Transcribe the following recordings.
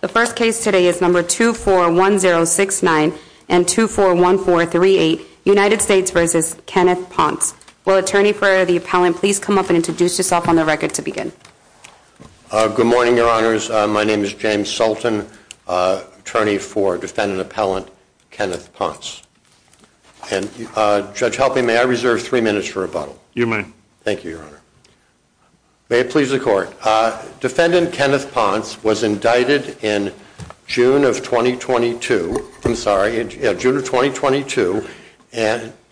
The first case today is No. 241069 and 241438, United States v. Kenneth Pontz. Will attorney for the appellant please come up and introduce yourself on the record to begin? Good morning, your honors. My name is James Sultan, attorney for defendant appellant Kenneth Pontz. And Judge Helping, may I reserve three minutes for rebuttal? You may. Thank you, your honor. May it please the court. Defendant Kenneth Pontz was indicted in June of 2022, I'm sorry, June of 2022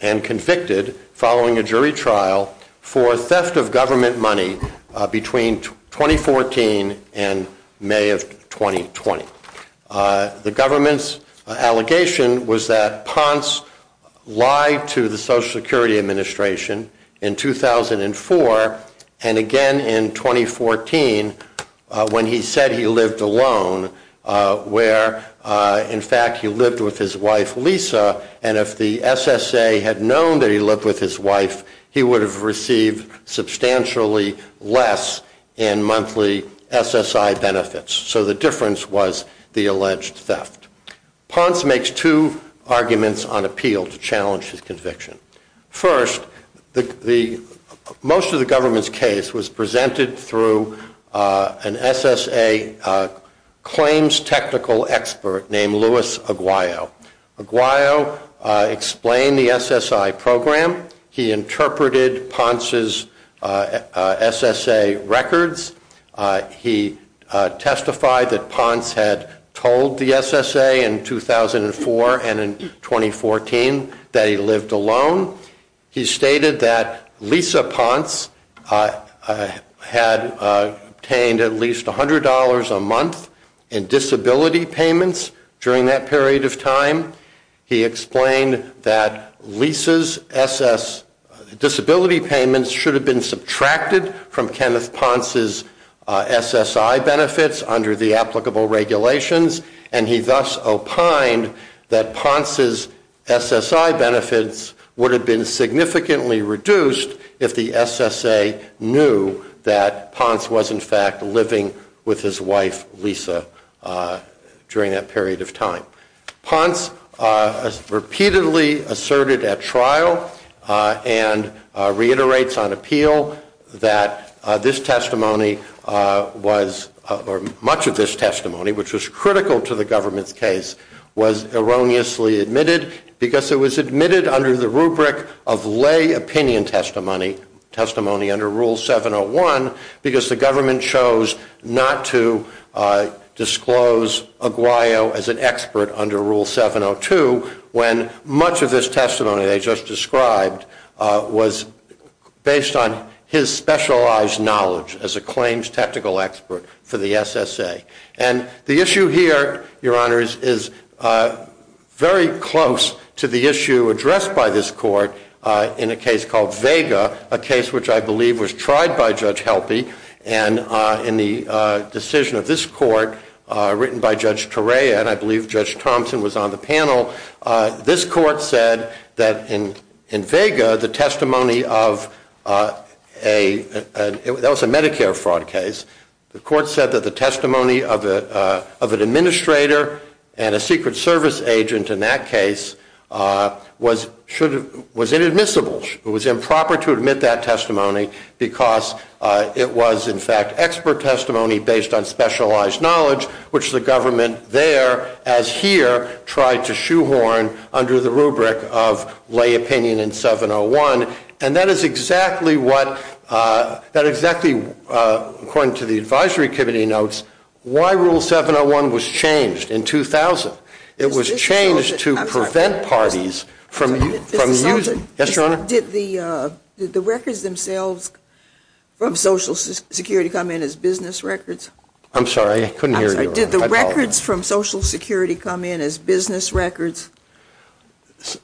and convicted following a jury trial for theft of government money between 2014 and May of 2020. The government's allegation was that Pontz lied to the Social Security Administration in 2004, and again in 2014, when he said he lived alone, where in fact he lived with his wife Lisa, and if the SSA had known that he lived with his wife, he would have received substantially less in monthly SSI benefits. So the difference was the alleged theft. Pontz makes two arguments on appeal to challenge his conviction. First, most of the government's case was presented through an SSA claims technical expert named Louis Aguayo. Aguayo explained the SSI program, he interpreted Pontz's SSA records, he testified that Pontz had told the SSA in 2004 and in 2014 that he lived alone. He stated that Lisa Pontz had obtained at least $100 a month in disability payments during that period of time. He explained that Lisa's disability payments should have been subtracted from Kenneth Pontz's SSI benefits under the applicable regulations, and he thus opined that Pontz's SSI benefits would have been significantly reduced if the SSA knew that Pontz was in fact living with his wife Lisa during that period of time. Pontz repeatedly asserted at trial and reiterates on appeal that this testimony was, or much of this testimony, which was critical to the government's case, was erroneously admitted because it was admitted under the rubric of lay opinion testimony, testimony under Rule 701, because the government chose not to disclose Aguayo as an expert under Rule 702 when much of this testimony they just described was based on his specialized knowledge as a claims technical expert for the SSA. And the issue here, your honors, is very close to the issue addressed by this court in a case which I believe was tried by Judge Helpe. And in the decision of this court, written by Judge Torea, and I believe Judge Thompson was on the panel, this court said that in Vega, the testimony of a, that was a Medicare fraud case, the court said that the testimony of an administrator and a Secret Service agent in that case was inadmissible, it was improper to admit that testimony because it was, in fact, expert testimony based on specialized knowledge, which the government there, as here, tried to shoehorn under the rubric of lay opinion in 701. And that is exactly what, that exactly, according to the advisory committee notes, why Rule 701 was changed in 2000. It was changed to prevent parties from using, yes, your honor? Did the records themselves from Social Security come in as business records? I'm sorry, I couldn't hear you. Did the records from Social Security come in as business records?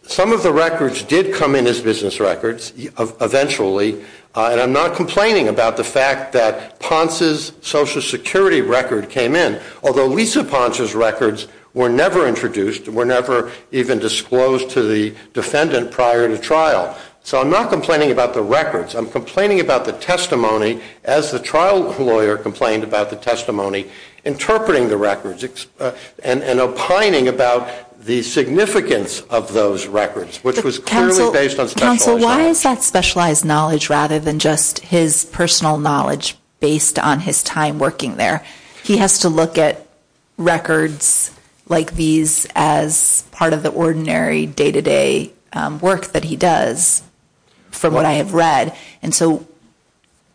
Some of the records did come in as business records, eventually, and I'm not complaining about the fact that Ponce's Social Security record came in, although Lisa Ponce's records were never introduced, were never even disclosed to the defendant prior to trial. So I'm not complaining about the records. I'm complaining about the testimony as the trial lawyer complained about the testimony, interpreting the records, and opining about the significance of those records, which was clearly based on specialized knowledge. Counsel, why is that specialized knowledge rather than just his personal knowledge based on his time working there? He has to look at records like these as part of the ordinary day-to-day work that he does from what I have read, and so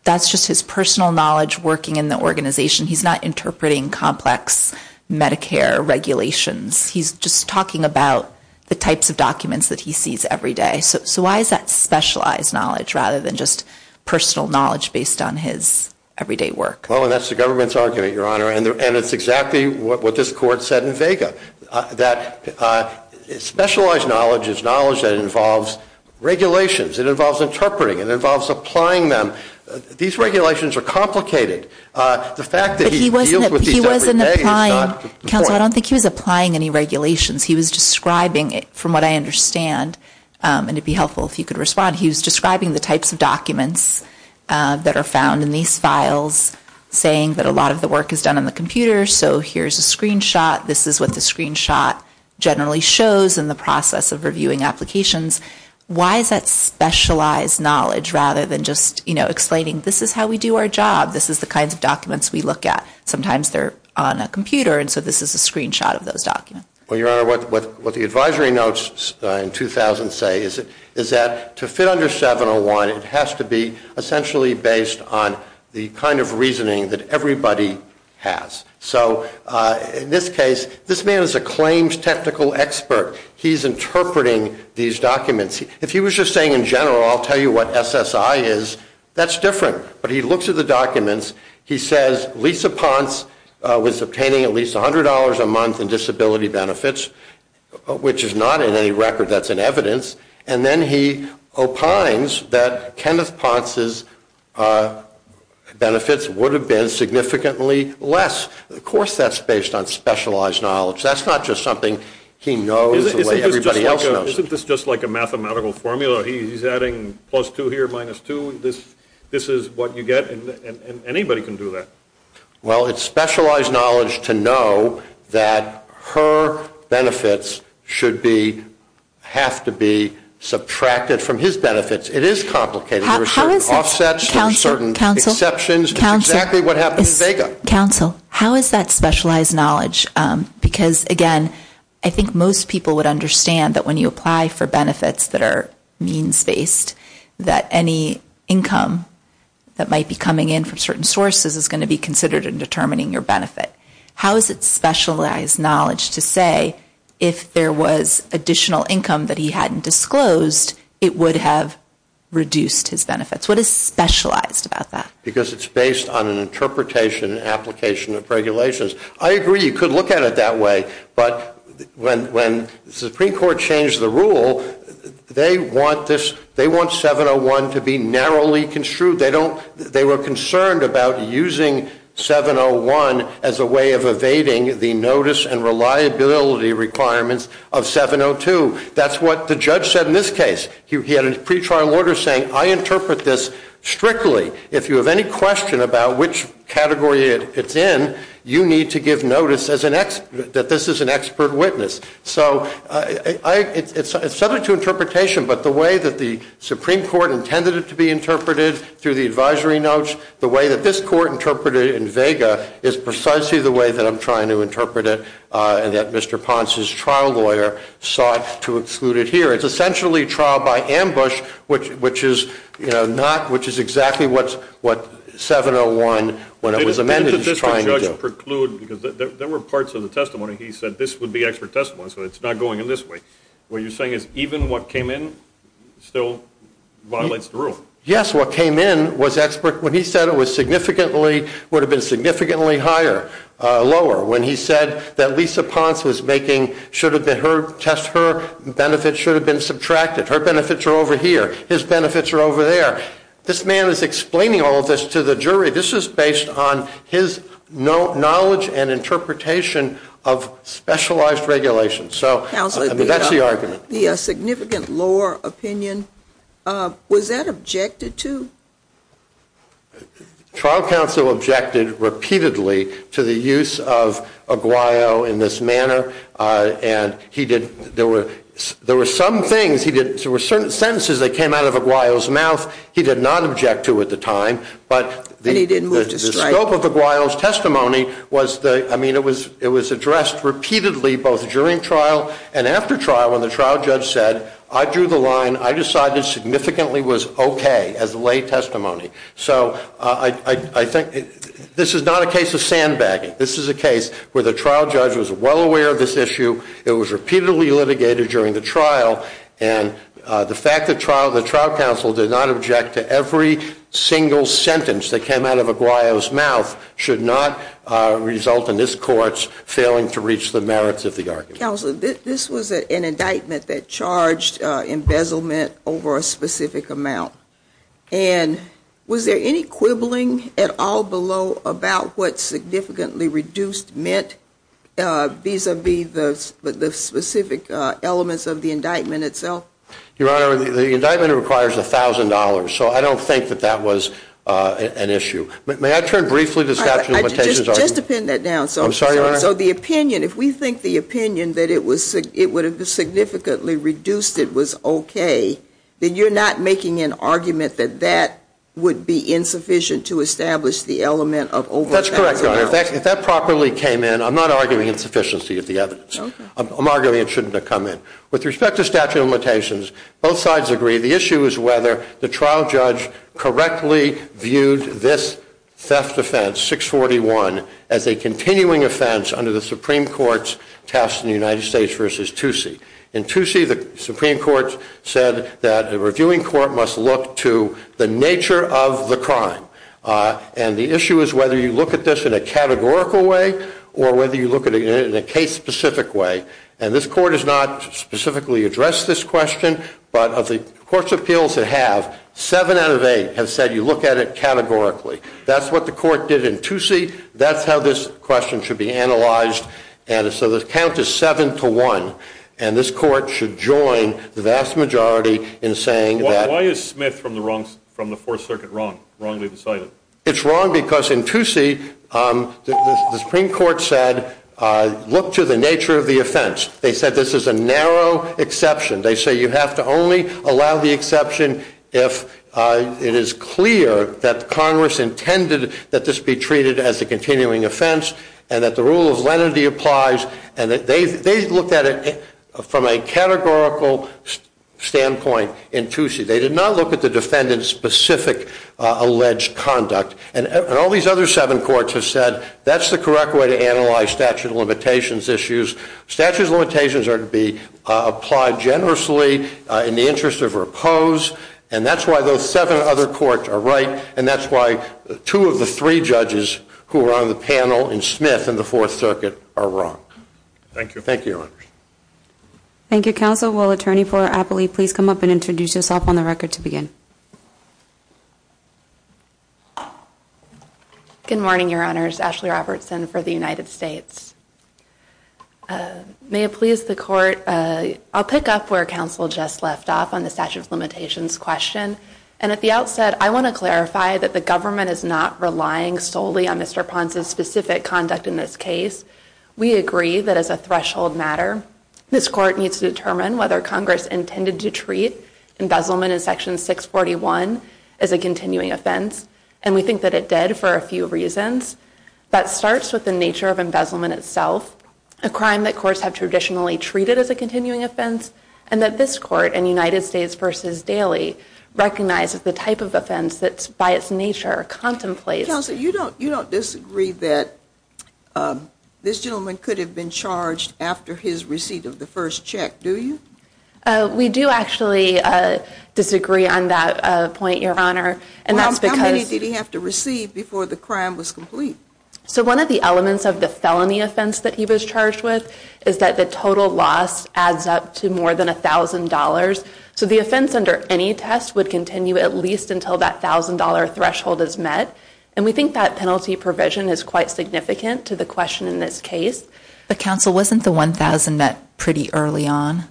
that's just his personal knowledge working in the organization. He's not interpreting complex Medicare regulations. He's just talking about the types of documents that he sees every day. So why is that specialized knowledge rather than just personal knowledge based on his everyday work? Well, and that's the government's argument, Your Honor, and it's exactly what this Court said in Vega, that specialized knowledge is knowledge that involves regulations. It involves interpreting. It involves applying them. These regulations are complicated. The fact that he deals with these every day is not important. But he wasn't applying, Counsel, I don't think he was applying any regulations. He was describing, from what I understand, and it would be helpful if you could respond, he was describing the types of documents that are found in these files, saying that a lot of the work is done on the computer, so here's a screenshot. This is what the screenshot generally shows in the process of reviewing applications. Why is that specialized knowledge rather than just, you know, explaining this is how we do our job. This is the kinds of documents we look at. Sometimes they're on a computer, and so this is a screenshot of those documents. Well, Your Honor, what the advisory notes in 2000 say is that to fit under 701, it has to be essentially based on the kind of reasoning that everybody has. So in this case, this man is a claimed technical expert. He's interpreting these documents. If he was just saying in general, I'll tell you what SSI is, that's different. But he looks at the documents. He says Lisa Ponce was obtaining at least $100 a month in disability benefits, which is not in any record that's in evidence. And then he opines that Kenneth Ponce's benefits would have been significantly less. Of course, that's based on specialized knowledge. That's not just something he knows the way everybody else knows. Isn't this just like a mathematical formula? He's adding plus 2 here, minus 2. This is what you get. And anybody can do that. Well, it's specialized knowledge to know that her benefits should have to be subtracted from his benefits. It is complicated. There are certain offsets, there are certain exceptions. It's exactly what happened in Vega. Counsel, how is that specialized knowledge? Because again, I think most people would understand that when you apply for benefits that are means-based, that any income that might be coming in from certain sources is going to be considered in determining your benefit. How is it specialized knowledge to say if there was additional income that he hadn't disclosed, it would have reduced his benefits? What is specialized about that? Because it's based on an interpretation and application of regulations. I agree, you could look at it that way. But when the Supreme Court changed the rule, they want 701 to be narrowly construed. They were concerned about using 701 as a way of evading the notice and reliability requirements of 702. That's what the judge said in this case. He had a pretrial order saying, I interpret this strictly. If you have any question about which category it's in, you need to give notice that this is an expert witness. So it's subject to interpretation, but the way that the Supreme Court intended it to be interpreted through the advisory notes, the way that this court interpreted it in Vega is precisely the way that I'm trying to interpret it and that Mr. Ponce's trial lawyer sought to exclude it here. It's essentially trial by ambush, which is exactly what 701, when it was amended, is trying to do. There were parts of the testimony he said, this would be expert testimony. So it's not going in this way. What you're saying is even what came in still violates the rule. Yes, what came in was expert. When he said it would have been significantly higher, lower. When he said that Lisa Ponce was making, should have been her test, her benefits should have been subtracted. Her benefits are over here. His benefits are over there. This man is explaining all of this to the jury. This is based on his knowledge and interpretation of specialized regulations. So that's the argument. The significant lower opinion, was that objected to? Trial counsel objected repeatedly to the use of Aguayo in this manner. And there were some things, there were certain sentences that came out of Aguayo's mouth he did not object to at the time. But the scope of Aguayo's testimony was, I mean, it was addressed repeatedly both during trial and after trial when the trial judge said, I drew the line. I decided significantly was OK as a lay testimony. So I think this is not a case of sandbagging. This is a case where the trial judge was well aware of this issue. It was repeatedly litigated during the trial. And the fact that the trial counsel did not object to every single sentence that came out of Aguayo's mouth should not result in this court failing to reach the merits of the argument. Counsel, this was an indictment that charged embezzlement over a specific amount. And was there any quibbling at all below about what significantly reduced meant vis-a-vis the specific elements of the indictment itself? Your Honor, the indictment requires $1,000. So I don't think that that was an issue. May I turn briefly to the statute of limitations argument? Just to pin that down. I'm sorry, Your Honor. So the opinion, if we think the opinion that it would have significantly reduced it was OK, then you're not making an argument that that would be insufficient to establish the element of over $1,000. That's correct, Your Honor. If that properly came in, I'm not arguing insufficiency of the evidence. I'm arguing it shouldn't have come in. With respect to statute of limitations, both sides agree the issue is whether the trial judge correctly viewed this theft offense, 641, as a continuing offense under the Supreme Court's test in the United States versus Toosie. In Toosie, the Supreme Court said that a reviewing court must look to the nature of the crime. And the issue is whether you look at this in a categorical way or whether you look at it in a case-specific way. And this court has not specifically addressed this question. But of the court's appeals that have, seven out of eight have said you look at it categorically. That's what the court did in Toosie. That's how this question should be analyzed. And so the count is 7 to 1. And this court should join the vast majority in saying that. Why is Smith from the Fourth Circuit wrong, wrongly decided? It's wrong because in Toosie, the Supreme Court said, look to the nature of the offense. They said this is a narrow exception. They say you have to only allow the exception if it is clear that Congress intended that this be treated as a continuing offense and that the rule of lenity applies. And they looked at it from a categorical standpoint in Toosie. They did not look at the defendant's specific alleged conduct. And all these other seven courts have said that's the correct way to analyze statute of limitations issues. Statute of limitations are to be applied generously in the interest of or opposed. And that's why those seven other courts are right. And that's why two of the three judges who were on the panel in Smith in the Fourth Circuit are wrong. Thank you. Thank you, Your Honor. Thank you, counsel. Attorney for Appley, please come up and introduce yourself on the record to begin. Good morning, Your Honors. Ashley Robertson for the United States. May it please the court, I'll pick up where counsel just left off on the statute of limitations question. And at the outset, I want to clarify that the government is not relying solely on Mr. Ponce's specific conduct in this case. We agree that as a threshold matter, this court needs to determine whether Congress intended to treat embezzlement in Section 641 as a continuing offense. And we think that it did for a few reasons. That starts with the nature of embezzlement itself, a crime that courts have traditionally treated as a continuing offense, and that this court in United States v. Daley recognizes the type of offense that by its nature contemplates. Counsel, you don't disagree that this gentleman could have been charged after his receipt of the first check, do you? We do actually disagree on that point, Your Honor. And that's because... How many did he have to receive before the crime was complete? So one of the elements of the felony offense that he was charged with is that the total loss adds up to more than $1,000. So the offense under any test would continue at least until that $1,000 threshold is met. And we think that penalty provision is quite significant to the question in this case. But counsel, wasn't the $1,000 met pretty early on?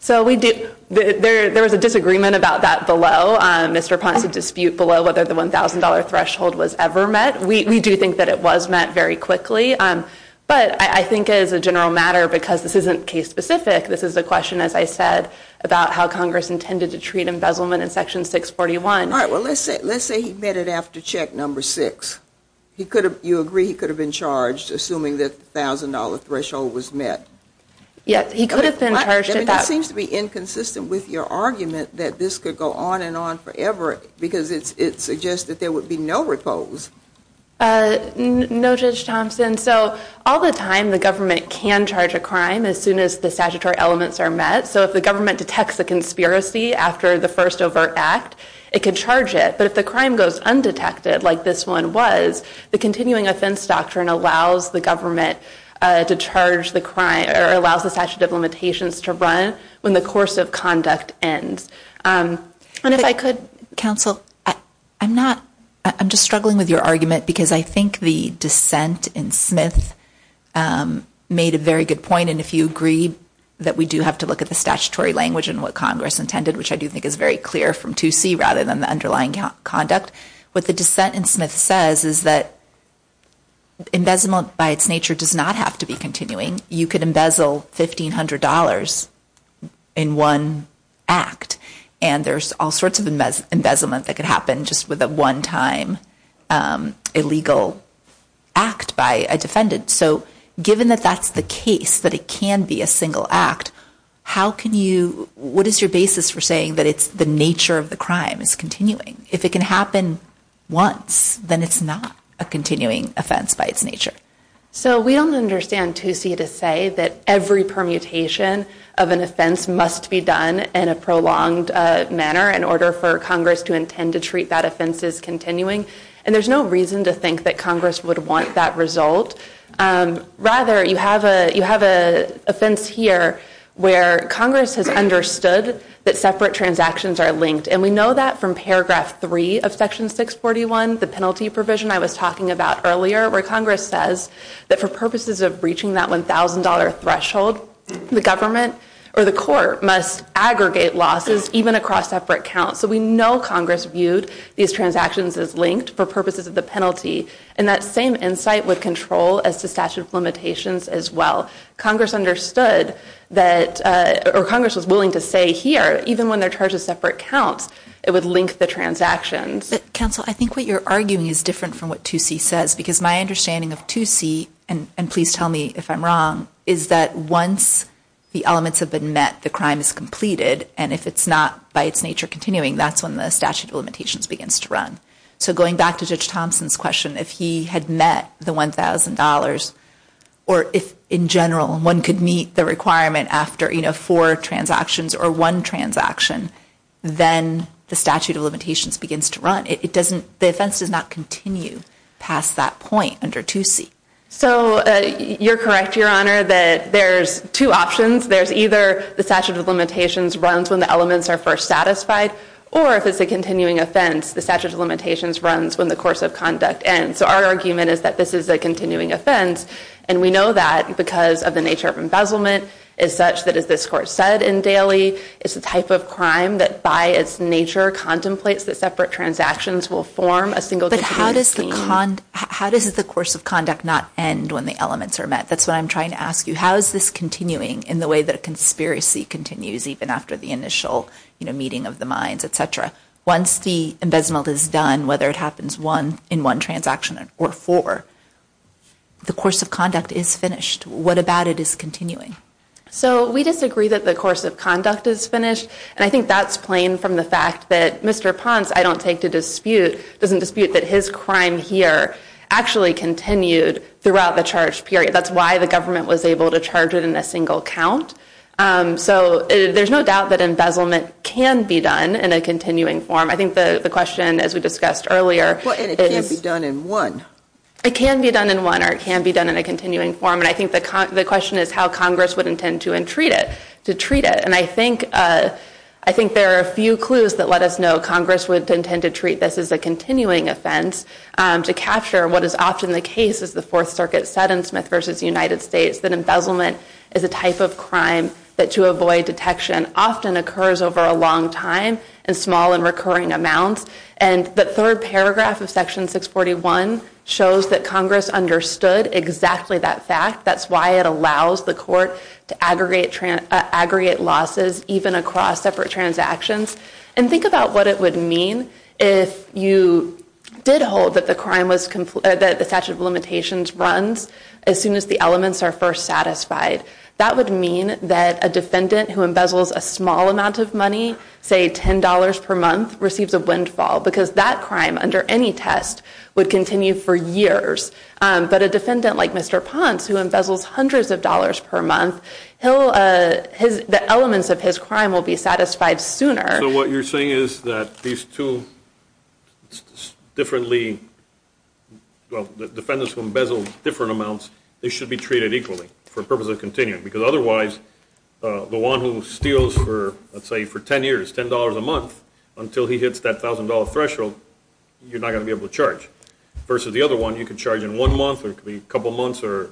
So there was a disagreement about that below. Mr. Ponce would dispute below whether the $1,000 threshold was ever met. We do think that it was met very quickly. But I think as a general matter, because this isn't case specific, this is a question, as I said, about how Congress intended to treat embezzlement in Section 641. All right. Well, let's say he met it after check number six. You agree he could have been charged assuming that the $1,000 threshold was met? Yes. He could have been charged at that... And it seems to be inconsistent with your argument that this could go on and on forever because it suggests that there would be no repose. No, Judge Thompson. So all the time, the government can charge a crime as soon as the statutory elements are met. So if the government detects a conspiracy after the first overt act, it could charge it. But if the crime goes undetected, like this one was, the continuing offense doctrine allows the government to charge the crime or allows the statute of limitations to run when the course of conduct ends. And if I could... Counsel, I'm just struggling with your argument because I think the dissent in Smith made a very good point. And if you agree that we do have to look at the statutory language and what Congress intended, which I do think is very clear from 2C rather than the underlying conduct, what the dissent in Smith says is that embezzlement by its nature does not have to be continuing. You could embezzle $1,500 in one act. And there's all sorts of embezzlement that could happen just with a one-time illegal act by a defendant. So given that that's the case, that it can be a single act, how can you... What is your basis for saying that it's the nature of the crime is continuing? If it can happen once, then it's not a continuing offense by its nature. So we don't understand 2C to say that every permutation of an offense must be done in a prolonged manner in order for Congress to intend to treat that offense as continuing. And there's no reason to think that Congress would want that result. Rather, you have an offense here where Congress has understood that separate transactions are linked. And we know that from Paragraph 3 of Section 641, the penalty provision I was talking about earlier, where Congress says that for purposes of reaching that $1,000 threshold, the government or the court must aggregate losses even across separate counts. So we know Congress viewed these transactions as linked for purposes of the penalty. And that same insight with control as to statute of limitations as well. Congress understood that... Or Congress was willing to say here, even when they're charged with separate counts, it would link the transactions. Counsel, I think what you're arguing is different from what 2C says. Because my understanding of 2C, and please tell me if I'm wrong, is that once the elements have been met, the crime is completed. And if it's not by its nature continuing, that's when the statute of limitations begins to run. So going back to Judge Thompson's question, if he had met the $1,000, or if in general one could meet the requirement after four transactions or one transaction, then the statute of limitations begins to run. It doesn't... The offense does not continue past that point under 2C. So you're correct, Your Honor, that there's two options. There's either the statute of limitations runs when the elements are first satisfied, or if it's a continuing offense, the statute of limitations runs when the course of conduct ends. So our argument is that this is a continuing offense. And we know that because of the nature of embezzlement is such that, as this Court said in Daly, it's a type of crime that by its nature contemplates that separate transactions will form a single... But how does the course of conduct not end when the elements are met? That's what I'm trying to ask you. How is this continuing in the way that a conspiracy continues even after the initial meeting of the minds, et cetera? Once the embezzlement is done, whether it happens in one transaction or four, the course of conduct is finished. What about it is continuing? So we disagree that the course of conduct is finished. And I think that's plain from the fact that Mr. Ponce, I don't take to dispute, doesn't dispute that his crime here actually continued throughout the charge period. That's why the government was able to charge it in a single count. So there's no doubt that embezzlement can be done in a continuing form. I think the question, as we discussed earlier... Well, and it can't be done in one. It can be done in one or it can be done in a continuing form. And I think the question is how Congress would intend to treat it. And I think there are a few clues that let us know Congress would intend to treat this as a continuing offense to capture what is often the case, as the Fourth Circuit said in Smith v. United States, that embezzlement is a type of crime that, to avoid detection, often occurs over a long time in small and recurring amounts. And the third paragraph of Section 641 shows that Congress understood exactly that fact. That's why it allows the court to aggregate losses even across separate transactions. And think about what it would mean if you did hold that the statute of limitations runs as soon as the elements are first satisfied. That would mean that a defendant who embezzles a small amount of money, say $10 per month, receives a windfall. Because that crime, under any test, would continue for years. But a defendant like Mr. Ponce, who embezzles hundreds of dollars per month, the elements of his crime will be satisfied sooner. So what you're saying is that these two differently, well, defendants who embezzle different amounts, they should be treated equally for the purpose of continuing. Because otherwise, the one who steals for, let's say, for 10 years, $10 a month, until he hits that $1,000 threshold, you're not going to be able to charge. Versus the other one, you can charge in one month, or it could be a couple months, or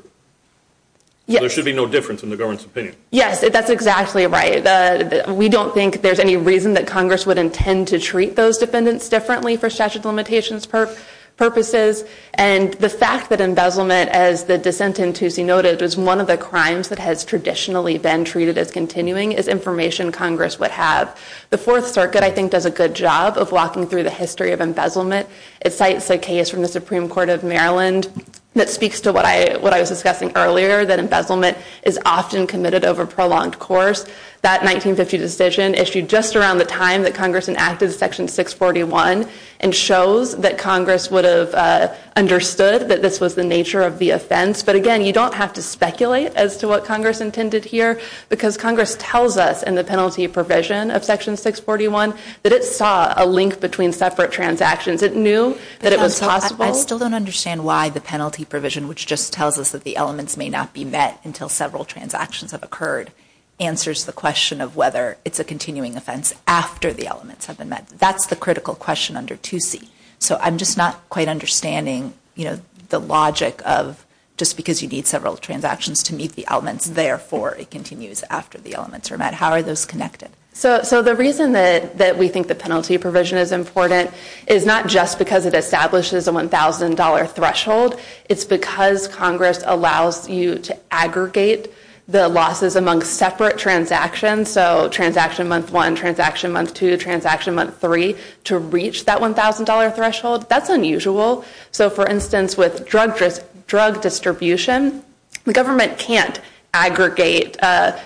there should be no difference in the government's opinion. Yes, that's exactly right. We don't think there's any reason that Congress would intend to treat those defendants differently for statute of limitations purposes. And the fact that embezzlement, as the dissent in Toosie noted, was one of the crimes that has traditionally been treated as continuing, is information Congress would have. The Fourth Circuit, I think, does a good job of walking through the history of embezzlement. It cites a case from the Supreme Court of Maryland that speaks to what I was discussing earlier, that embezzlement is often committed over prolonged course. That 1950 decision issued just around the time that Congress enacted Section 641, and shows that Congress would have understood that this was the nature of the offense. But again, you don't have to speculate as to what Congress intended here, because Congress tells us in the penalty provision of Section 641, that it saw a link between separate transactions. It knew that it was possible. I still don't understand why the penalty provision, which just tells us that the elements may not be met until several transactions have occurred, answers the question of whether it's a continuing offense after the elements have been met. That's the critical question under Toosie. So I'm just not quite understanding, you know, the logic of just because you need several transactions to meet the elements, therefore it continues after the elements are met. How are those connected? So the reason that we think the penalty provision is important is not just because it establishes a $1,000 threshold. It's because Congress allows you to aggregate the losses among separate transactions. So transaction month one, transaction month two, transaction month three, to reach that $1,000 threshold. That's unusual. So for instance, with drug distribution, the government can't aggregate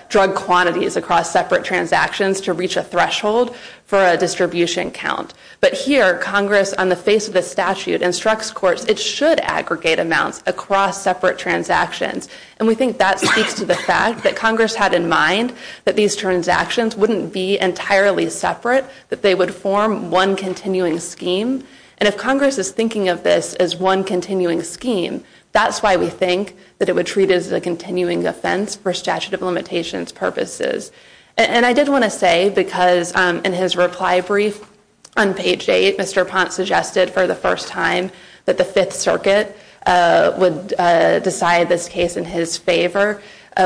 drug quantities across separate transactions to reach a threshold for a distribution count. But here, Congress, on the face of the statute, instructs courts it should aggregate amounts across separate transactions. And we think that speaks to the fact that Congress had in mind that these transactions wouldn't be entirely separate, that they would form one continuing scheme. And if Congress is thinking of this as one continuing scheme, that's why we think that it would treat it as a continuing offense for statute of limitations purposes. And I did want to say, because in his reply brief on page eight, Mr. Ponce suggested for the first time that the Fifth Circuit would decide this case in his favor.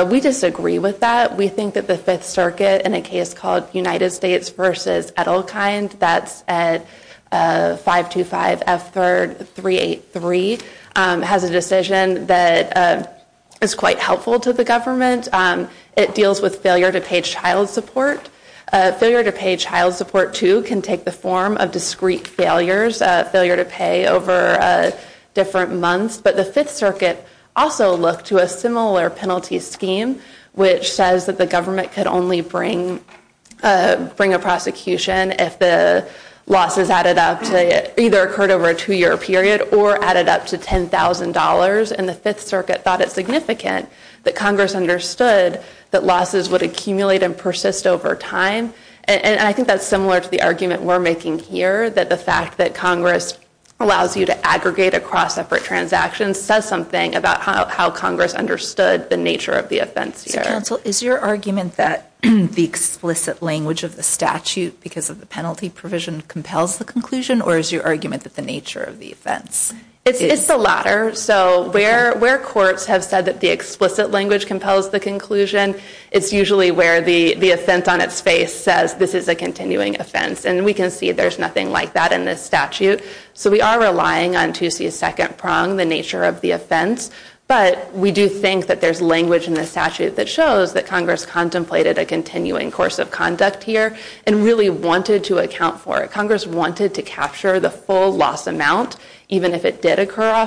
We disagree with that. We think that the Fifth Circuit, in a case called United States v. Edelkind, that's at 525-F383, has a decision that is quite helpful to the government. It deals with failure to pay child support. Failure to pay child support, too, can take the form of discrete failures, failure to pay over different months. But the Fifth Circuit also looked to a similar penalty scheme, which says that the government could only bring a prosecution if the losses either occurred over a two-year period or added up to $10,000. And the Fifth Circuit thought it significant that Congress understood that losses would accumulate and persist over time. And I think that's similar to the argument we're making here, that the fact that Congress allows you to aggregate across separate transactions says something about how Congress understood the nature of the offense here. So, counsel, is your argument that the explicit language of the statute because of the penalty provision compels the conclusion, or is your argument that the nature of the offense is— It's the latter. So where courts have said that the explicit language compels the conclusion, it's usually where the offense on its face says, this is a continuing offense. And we can see there's nothing like that in this statute. So we are relying on 2C's second prong, the nature of the offense. But we do think that there's language in the statute that shows that Congress contemplated a continuing course of conduct here and really wanted to account for it. Congress wanted to capture the full loss amount, even if it did occur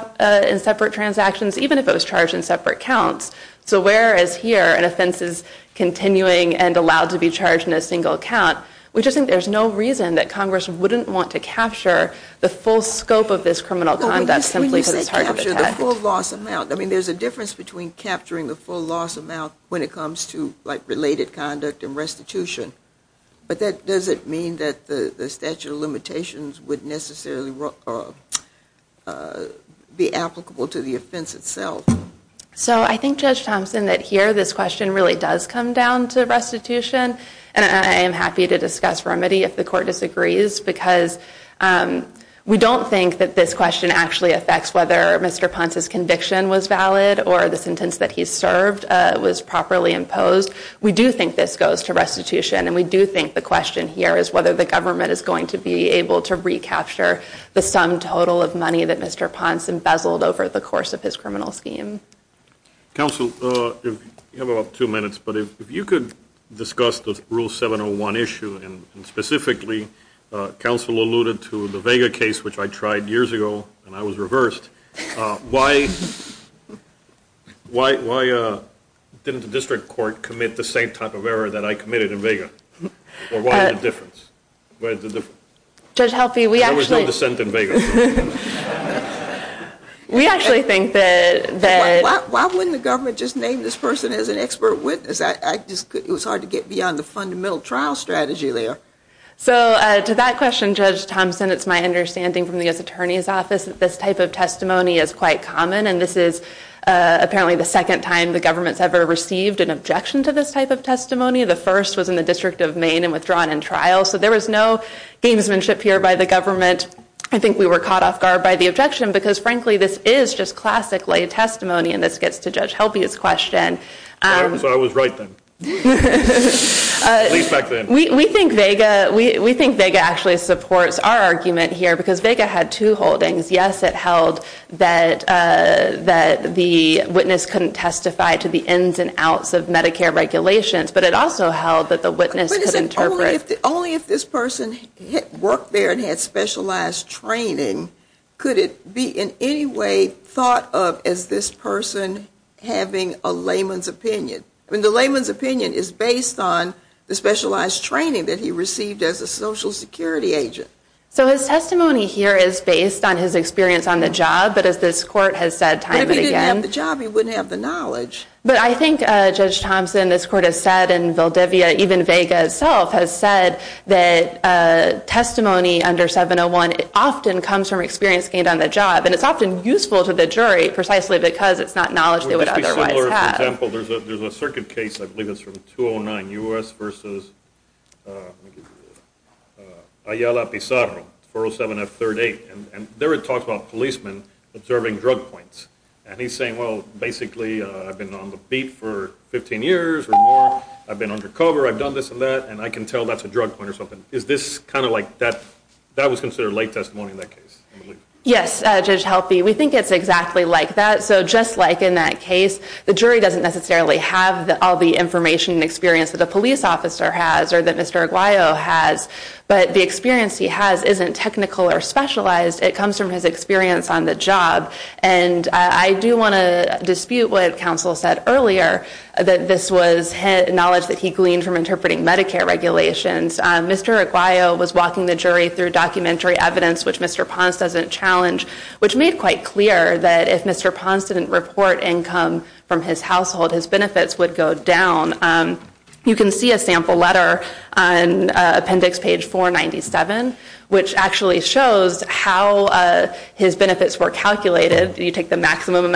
in separate transactions, even if it was charged in separate counts. So whereas here an offense is continuing and allowed to be charged in a single count, we just think there's no reason that Congress wouldn't want to capture the full scope of this criminal conduct simply because it's hard to detect. The full loss amount. I mean, there's a difference between capturing the full loss amount when it comes to, like, related conduct and restitution. But does it mean that the statute of limitations would necessarily be applicable to the offense itself? So I think, Judge Thompson, that here this question really does come down to restitution. And I am happy to discuss remedy if the court disagrees. Because we don't think that this question actually affects whether Mr. Ponce's conviction was valid or the sentence that he served was properly imposed. We do think this goes to restitution. And we do think the question here is whether the government is going to be able to recapture the sum total of money that Mr. Ponce embezzled over the course of his criminal scheme. Counsel, you have about two minutes. But if you could discuss the Rule 701 issue. And specifically, counsel alluded to the Vega case, which I tried years ago, and I was reversed. Why didn't the district court commit the same type of error that I committed in Vega? Or what's the difference? Judge Helfey, we actually think that. Why wouldn't the government just name this person as an expert witness? I just couldn't. It was hard to get beyond the fundamental trial strategy there. So to that question, Judge Thompson, it's my understanding from the U.S. Attorney's Office that this type of testimony is quite common. And this is apparently the second time the government's ever received an objection to this type of testimony. The first was in the District of Maine and withdrawn in trial. So there was no gamesmanship here by the government. I think we were caught off guard by the objection, because frankly, this is just classic lay testimony. And this gets to Judge Helfey's question. So I was right then. At least back then. We think Vega actually supports our argument here, because Vega had two holdings. Yes, it held that the witness couldn't testify to the ins and outs of Medicare regulations. But it also held that the witness could interpret. Only if this person worked there and had specialized training, could it be in any way thought of as this person having a layman's opinion? I mean, the layman's opinion is based on the specialized training that he received as a Social Security agent. So his testimony here is based on his experience on the job. But as this court has said time and again. If he didn't have the job, he wouldn't have the knowledge. But I think, Judge Thompson, this court has said in Valdivia, even Vega itself has said that testimony under 701 often comes from experience gained on the job. And it's often useful to the jury, precisely because it's not knowledge they would otherwise have. For example, there's a circuit case. I believe it's from 209 U.S. versus Ayala Pizarro, 407F38. And there it talks about policemen observing drug points. And he's saying, well, basically, I've been on the beat for 15 years or more. I've been under cover. I've done this and that. And I can tell that's a drug point or something. Is this kind of like that? That was considered late testimony in that case. Yes, Judge Helpe. We think it's exactly like that. So just like in that case, the jury doesn't necessarily have all the information and experience that a police officer has or that Mr. Aguayo has. But the experience he has isn't technical or specialized. It comes from his experience on the job. And I do want to dispute what counsel said earlier, that this was knowledge that he gleaned from interpreting Medicare regulations. Mr. Aguayo was walking the jury through documentary evidence, which Mr. Ponce doesn't challenge, which made quite clear that if Mr. Ponce didn't report income from his household, his benefits would go down. You can see a sample letter on appendix page 497, which actually shows how his benefits were calculated. You take the maximum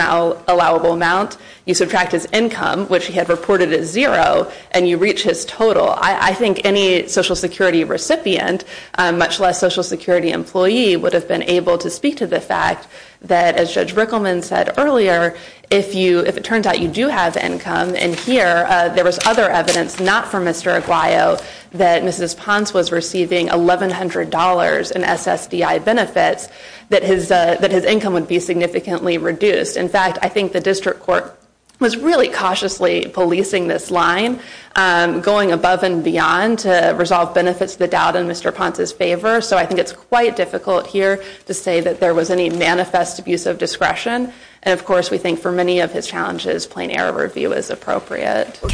allowable amount. You subtract his income, which he had reported as zero, and you reach his total. I think any Social Security recipient, much less Social Security employee, would have been able to speak to the fact that, as Judge Rickleman said earlier, if it turns out you do have income, and here there was other evidence, not for Mr. Aguayo, that Mrs. Ponce was receiving $1,100 in SSDI benefits, that his income would be significantly reduced. In fact, I think the district court was really cautiously policing this line, going above and beyond to resolve benefits to the doubt in Mr. Ponce's favor. So I think it's quite difficult here to say that there was any manifest abuse of discretion. And of course, we think for many of his challenges, plain error review is appropriate. Go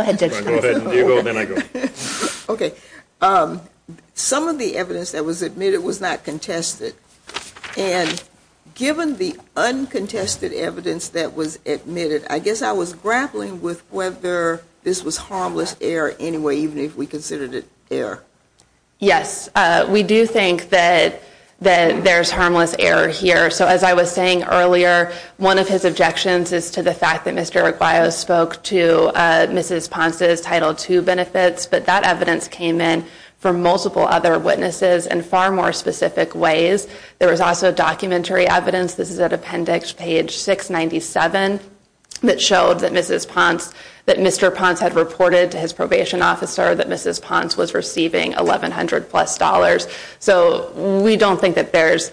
ahead, Judge Ponce. Go ahead, then I go. Okay. Some of the evidence that was admitted was not contested. And given the uncontested evidence that was admitted, I guess I was grappling with whether this was harmless error anyway, even if we considered it error. Yes, we do think that there's harmless error here. So as I was saying earlier, one of his objections is to the fact that Mr. Aguayo spoke to Mrs. Ponce's Title II benefits, but that evidence came in from multiple other witnesses in far more specific ways. There was also documentary evidence. This is an appendix, page 697, that showed that Mr. Ponce had reported to his probation officer that Mrs. Ponce was receiving $1,100 plus. So we don't think that to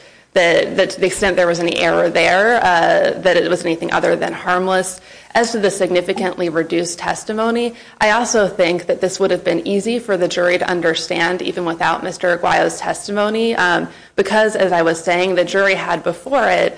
the extent there was any error there, that it was anything other than harmless. As to the significantly reduced testimony, I also think that this would have been easy for the jury to understand even without Mr. Aguayo's testimony, because as I was saying, the jury had before it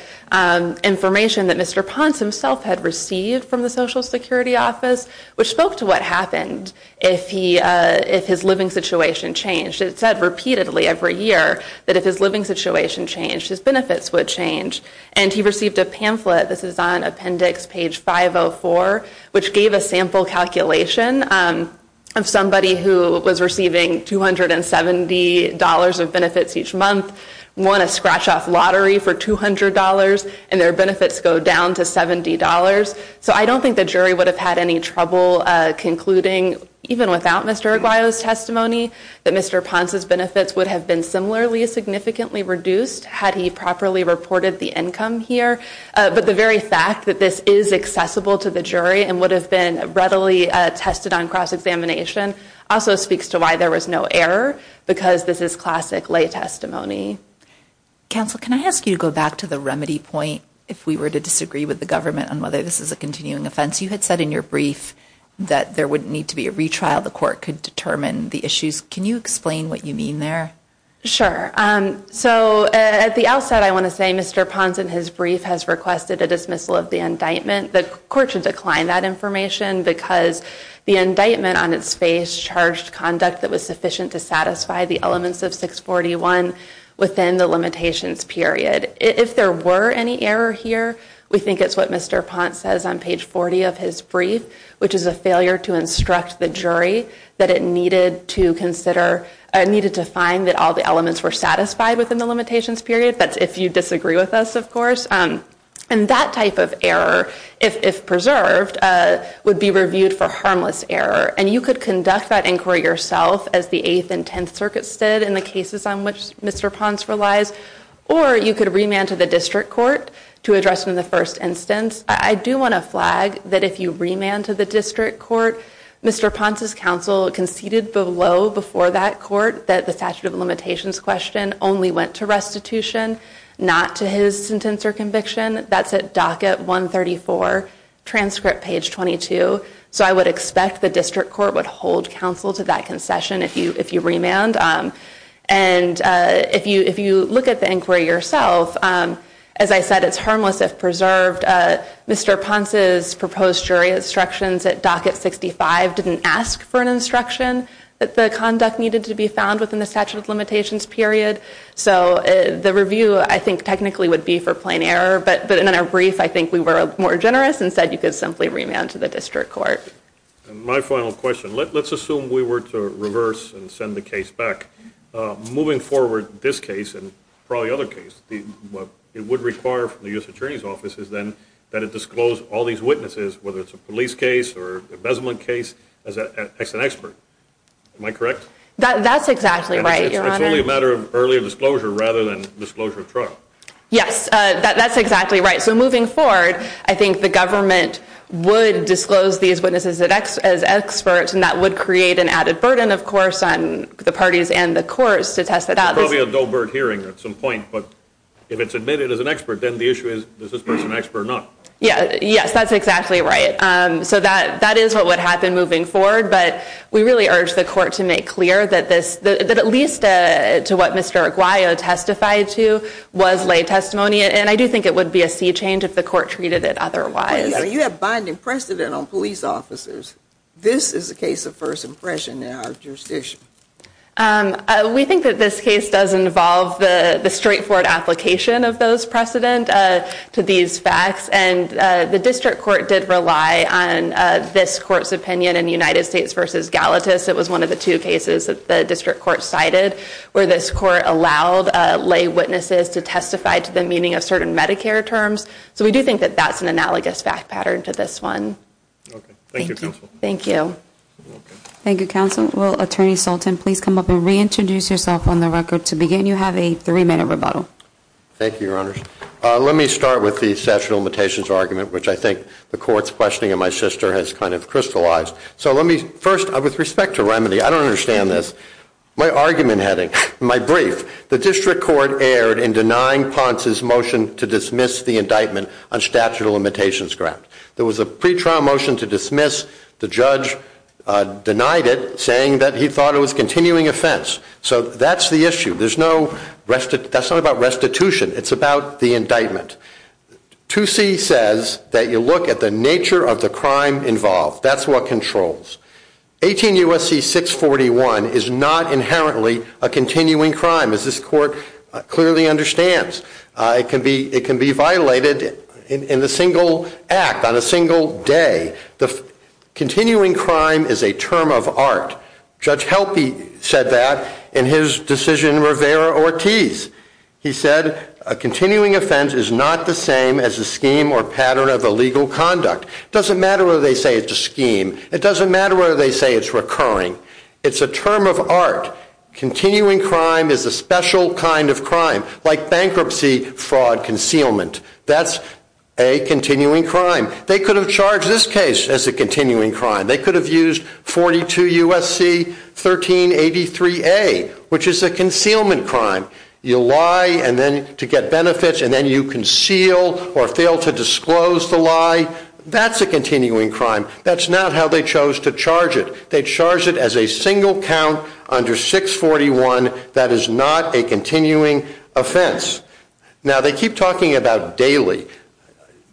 information that Mr. Ponce himself had received from the Social Security Office, which spoke to what happened if his living situation changed. It said repeatedly every year that if his living situation changed, his benefits would change. And he received a pamphlet. This is on appendix, page 504, which gave a sample calculation of somebody who was receiving $270 of benefits each month, won a scratch-off lottery for $200, and their benefits go down to $70. So I don't think the jury would have had any trouble concluding, even without Mr. Aguayo's testimony, that Mr. Ponce's benefits would have been similarly significantly reduced had he properly reported the income here. But the very fact that this is accessible to the jury and would have been readily tested on cross-examination also speaks to why there was no error, because this is classic lay testimony. Counsel, can I ask you to go back to the remedy point if we were to disagree with the government on whether this is a continuing offense? You had said in your brief that there wouldn't need to be a retrial. The court could determine the issues. Can you explain what you mean there? Sure. So at the outset, I want to say Mr. Ponce in his brief has requested a dismissal of the indictment. The court should decline that information because the indictment on its face charged conduct that was sufficient to satisfy the elements of 641 within the limitations period. If there were any error here, we think it's what Mr. Ponce says on page 40 of his brief, which is a failure to instruct the jury that it needed to consider, needed to find that all the elements were satisfied within the limitations period. That's if you disagree with us, of course. And that type of error, if preserved, would be reviewed for harmless error. And you could conduct that inquiry yourself as the Eighth and Tenth Circuits did in the cases on which Mr. Ponce relies. Or you could remand to the district court to address in the first instance. I do want to flag that if you remand to the district court, Mr. Ponce's counsel conceded below before that court that the statute of limitations question only went to restitution, not to his sentence or conviction. That's at docket 134, transcript page 22. So I would expect the district court would hold counsel to that concession if you remand. And if you look at the inquiry yourself, as I said, it's harmless if preserved. Mr. Ponce's proposed jury instructions at docket 65 didn't ask for an instruction that the conduct needed to be found within the statute of limitations period. So the review, I think, technically would be for plain error. But in our brief, I think we were more generous and said you could simply remand to the district court. And my final question. Let's assume we were to reverse and send the case back. Moving forward, this case and probably other cases, it would require from the U.S. attorney's office is then that it disclose all these witnesses, whether it's a police case or embezzlement case, as an expert. Am I correct? That's exactly right, your honor. It's only a matter of earlier disclosure rather than disclosure of trial. Yes, that's exactly right. So moving forward, I think the government would disclose these witnesses as experts and that would create an added burden, of course, on the parties and the courts to test it out. It's probably a Doe-Bird hearing at some point. But if it's admitted as an expert, then the issue is, is this person an expert or not? Yeah, yes, that's exactly right. So that is what would happen moving forward. But we really urge the court to make clear that at least to what Mr. Aguayo testified to was lay testimony. And I do think it would be a sea change if the court treated it otherwise. You have binding precedent on police officers. This is a case of first impression in our jurisdiction. We think that this case does involve the straightforward application of those precedent to these facts. And the district court did rely on this court's opinion in United States versus Galatas. It was one of the two cases that the district court cited where this court allowed lay witnesses to testify to the meaning of certain Medicare terms. So we do think that that's an analogous fact pattern to this one. OK, thank you, Counsel. Thank you. Thank you, Counsel. Will Attorney Sultan please come up and reintroduce yourself on the record to begin? You have a three minute rebuttal. Thank you, Your Honors. Let me start with the statute of limitations argument, which I think the court's questioning of my sister has kind of crystallized. So let me first, with respect to remedy, I don't understand this. My argument heading, my brief, the district court erred in denying Ponce's motion to dismiss the indictment on statute of limitations grant. There was a pretrial motion to dismiss. The judge denied it, saying that he thought it was a continuing offense. So that's the issue. There's no restitution. That's not about restitution. It's about the indictment. 2C says that you look at the nature of the crime involved. That's what controls. 18 U.S.C. 641 is not inherently a continuing crime, as this court clearly understands. It can be violated in a single act, on a single day. Continuing crime is a term of art. Judge Helpe said that in his decision, Rivera-Ortiz. He said a continuing offense is not the same as a scheme or pattern of illegal conduct. It doesn't matter whether they say it's a scheme. It doesn't matter whether they say it's recurring. It's a term of art. Continuing crime is a special kind of crime, like bankruptcy, fraud, concealment. That's a continuing crime. They could have charged this case as a continuing crime. They could have used 42 U.S.C. 1383A, which is a concealment crime. You lie and then to get benefits, and then you conceal or fail to disclose the lie. That's a continuing crime. That's not how they chose to charge it. They charge it as a single count under 641. That is not a continuing offense. Now, they keep talking about Daly.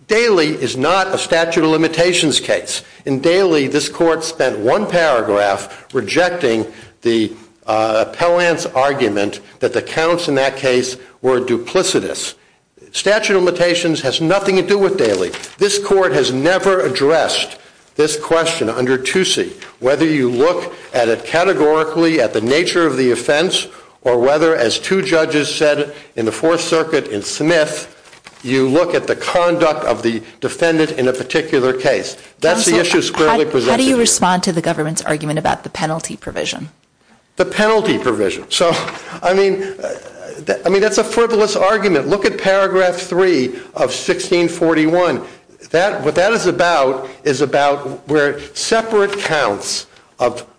Daly is not a statute of limitations case. In Daly, this court spent one paragraph rejecting the appellant's argument that the counts in that case were duplicitous. Statute of limitations has nothing to do with Daly. This court has never addressed this question under Toosie, whether you look at it categorically at the nature of the offense or whether, as two judges said in the Fourth Circuit in Smith, you look at the conduct of the defendant in a particular case. That's the issue squarely presented. Counsel, how do you respond to the government's argument about the penalty provision? The penalty provision. So, I mean, I mean, that's a frivolous argument. Look at paragraph 3 of 1641. What that is about is about where separate counts of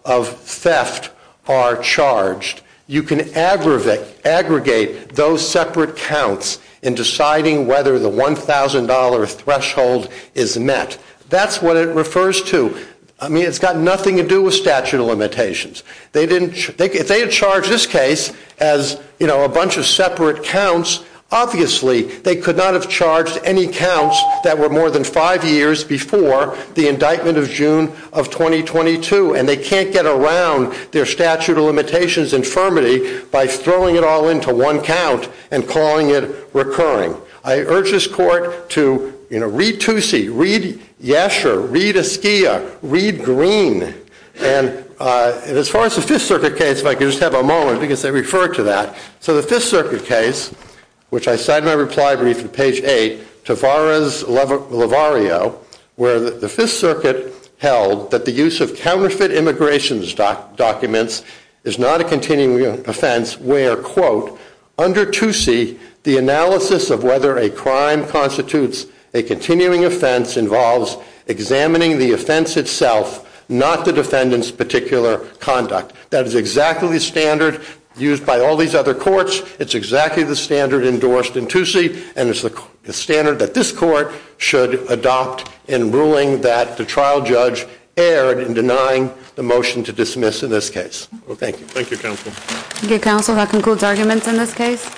theft are charged. You can aggregate those separate counts in deciding whether the $1,000 threshold is met. That's what it refers to. I mean, it's got nothing to do with statute of limitations. They didn't, if they had charged this case as, you know, a bunch of separate counts, obviously, they could not have charged any counts that were more than five years before the indictment of June of 2022. And they can't get around their statute of limitations infirmity by throwing it all into one count and calling it recurring. I urge this court to, you know, read Toosie, read Yesher, read Askia, read Green. And as far as the Fifth Circuit case, if I could just have a moment, because they refer to that. So the Fifth Circuit case, which I cite in my reply brief on page eight, Tavares-Lavario, where the Fifth Circuit held that the use of counterfeit immigration documents is not a continuing offense, where, quote, under Toosie, the analysis of whether a crime constitutes a continuing offense involves examining the offense itself, not the defendant's particular conduct. That is exactly the standard used by all these other courts. It's exactly the standard endorsed in Toosie. And it's the standard that this court should adopt in ruling that the trial judge erred in denying the motion to dismiss in this case. Well, thank you. Thank you, counsel. Thank you, counsel. That concludes arguments in this case.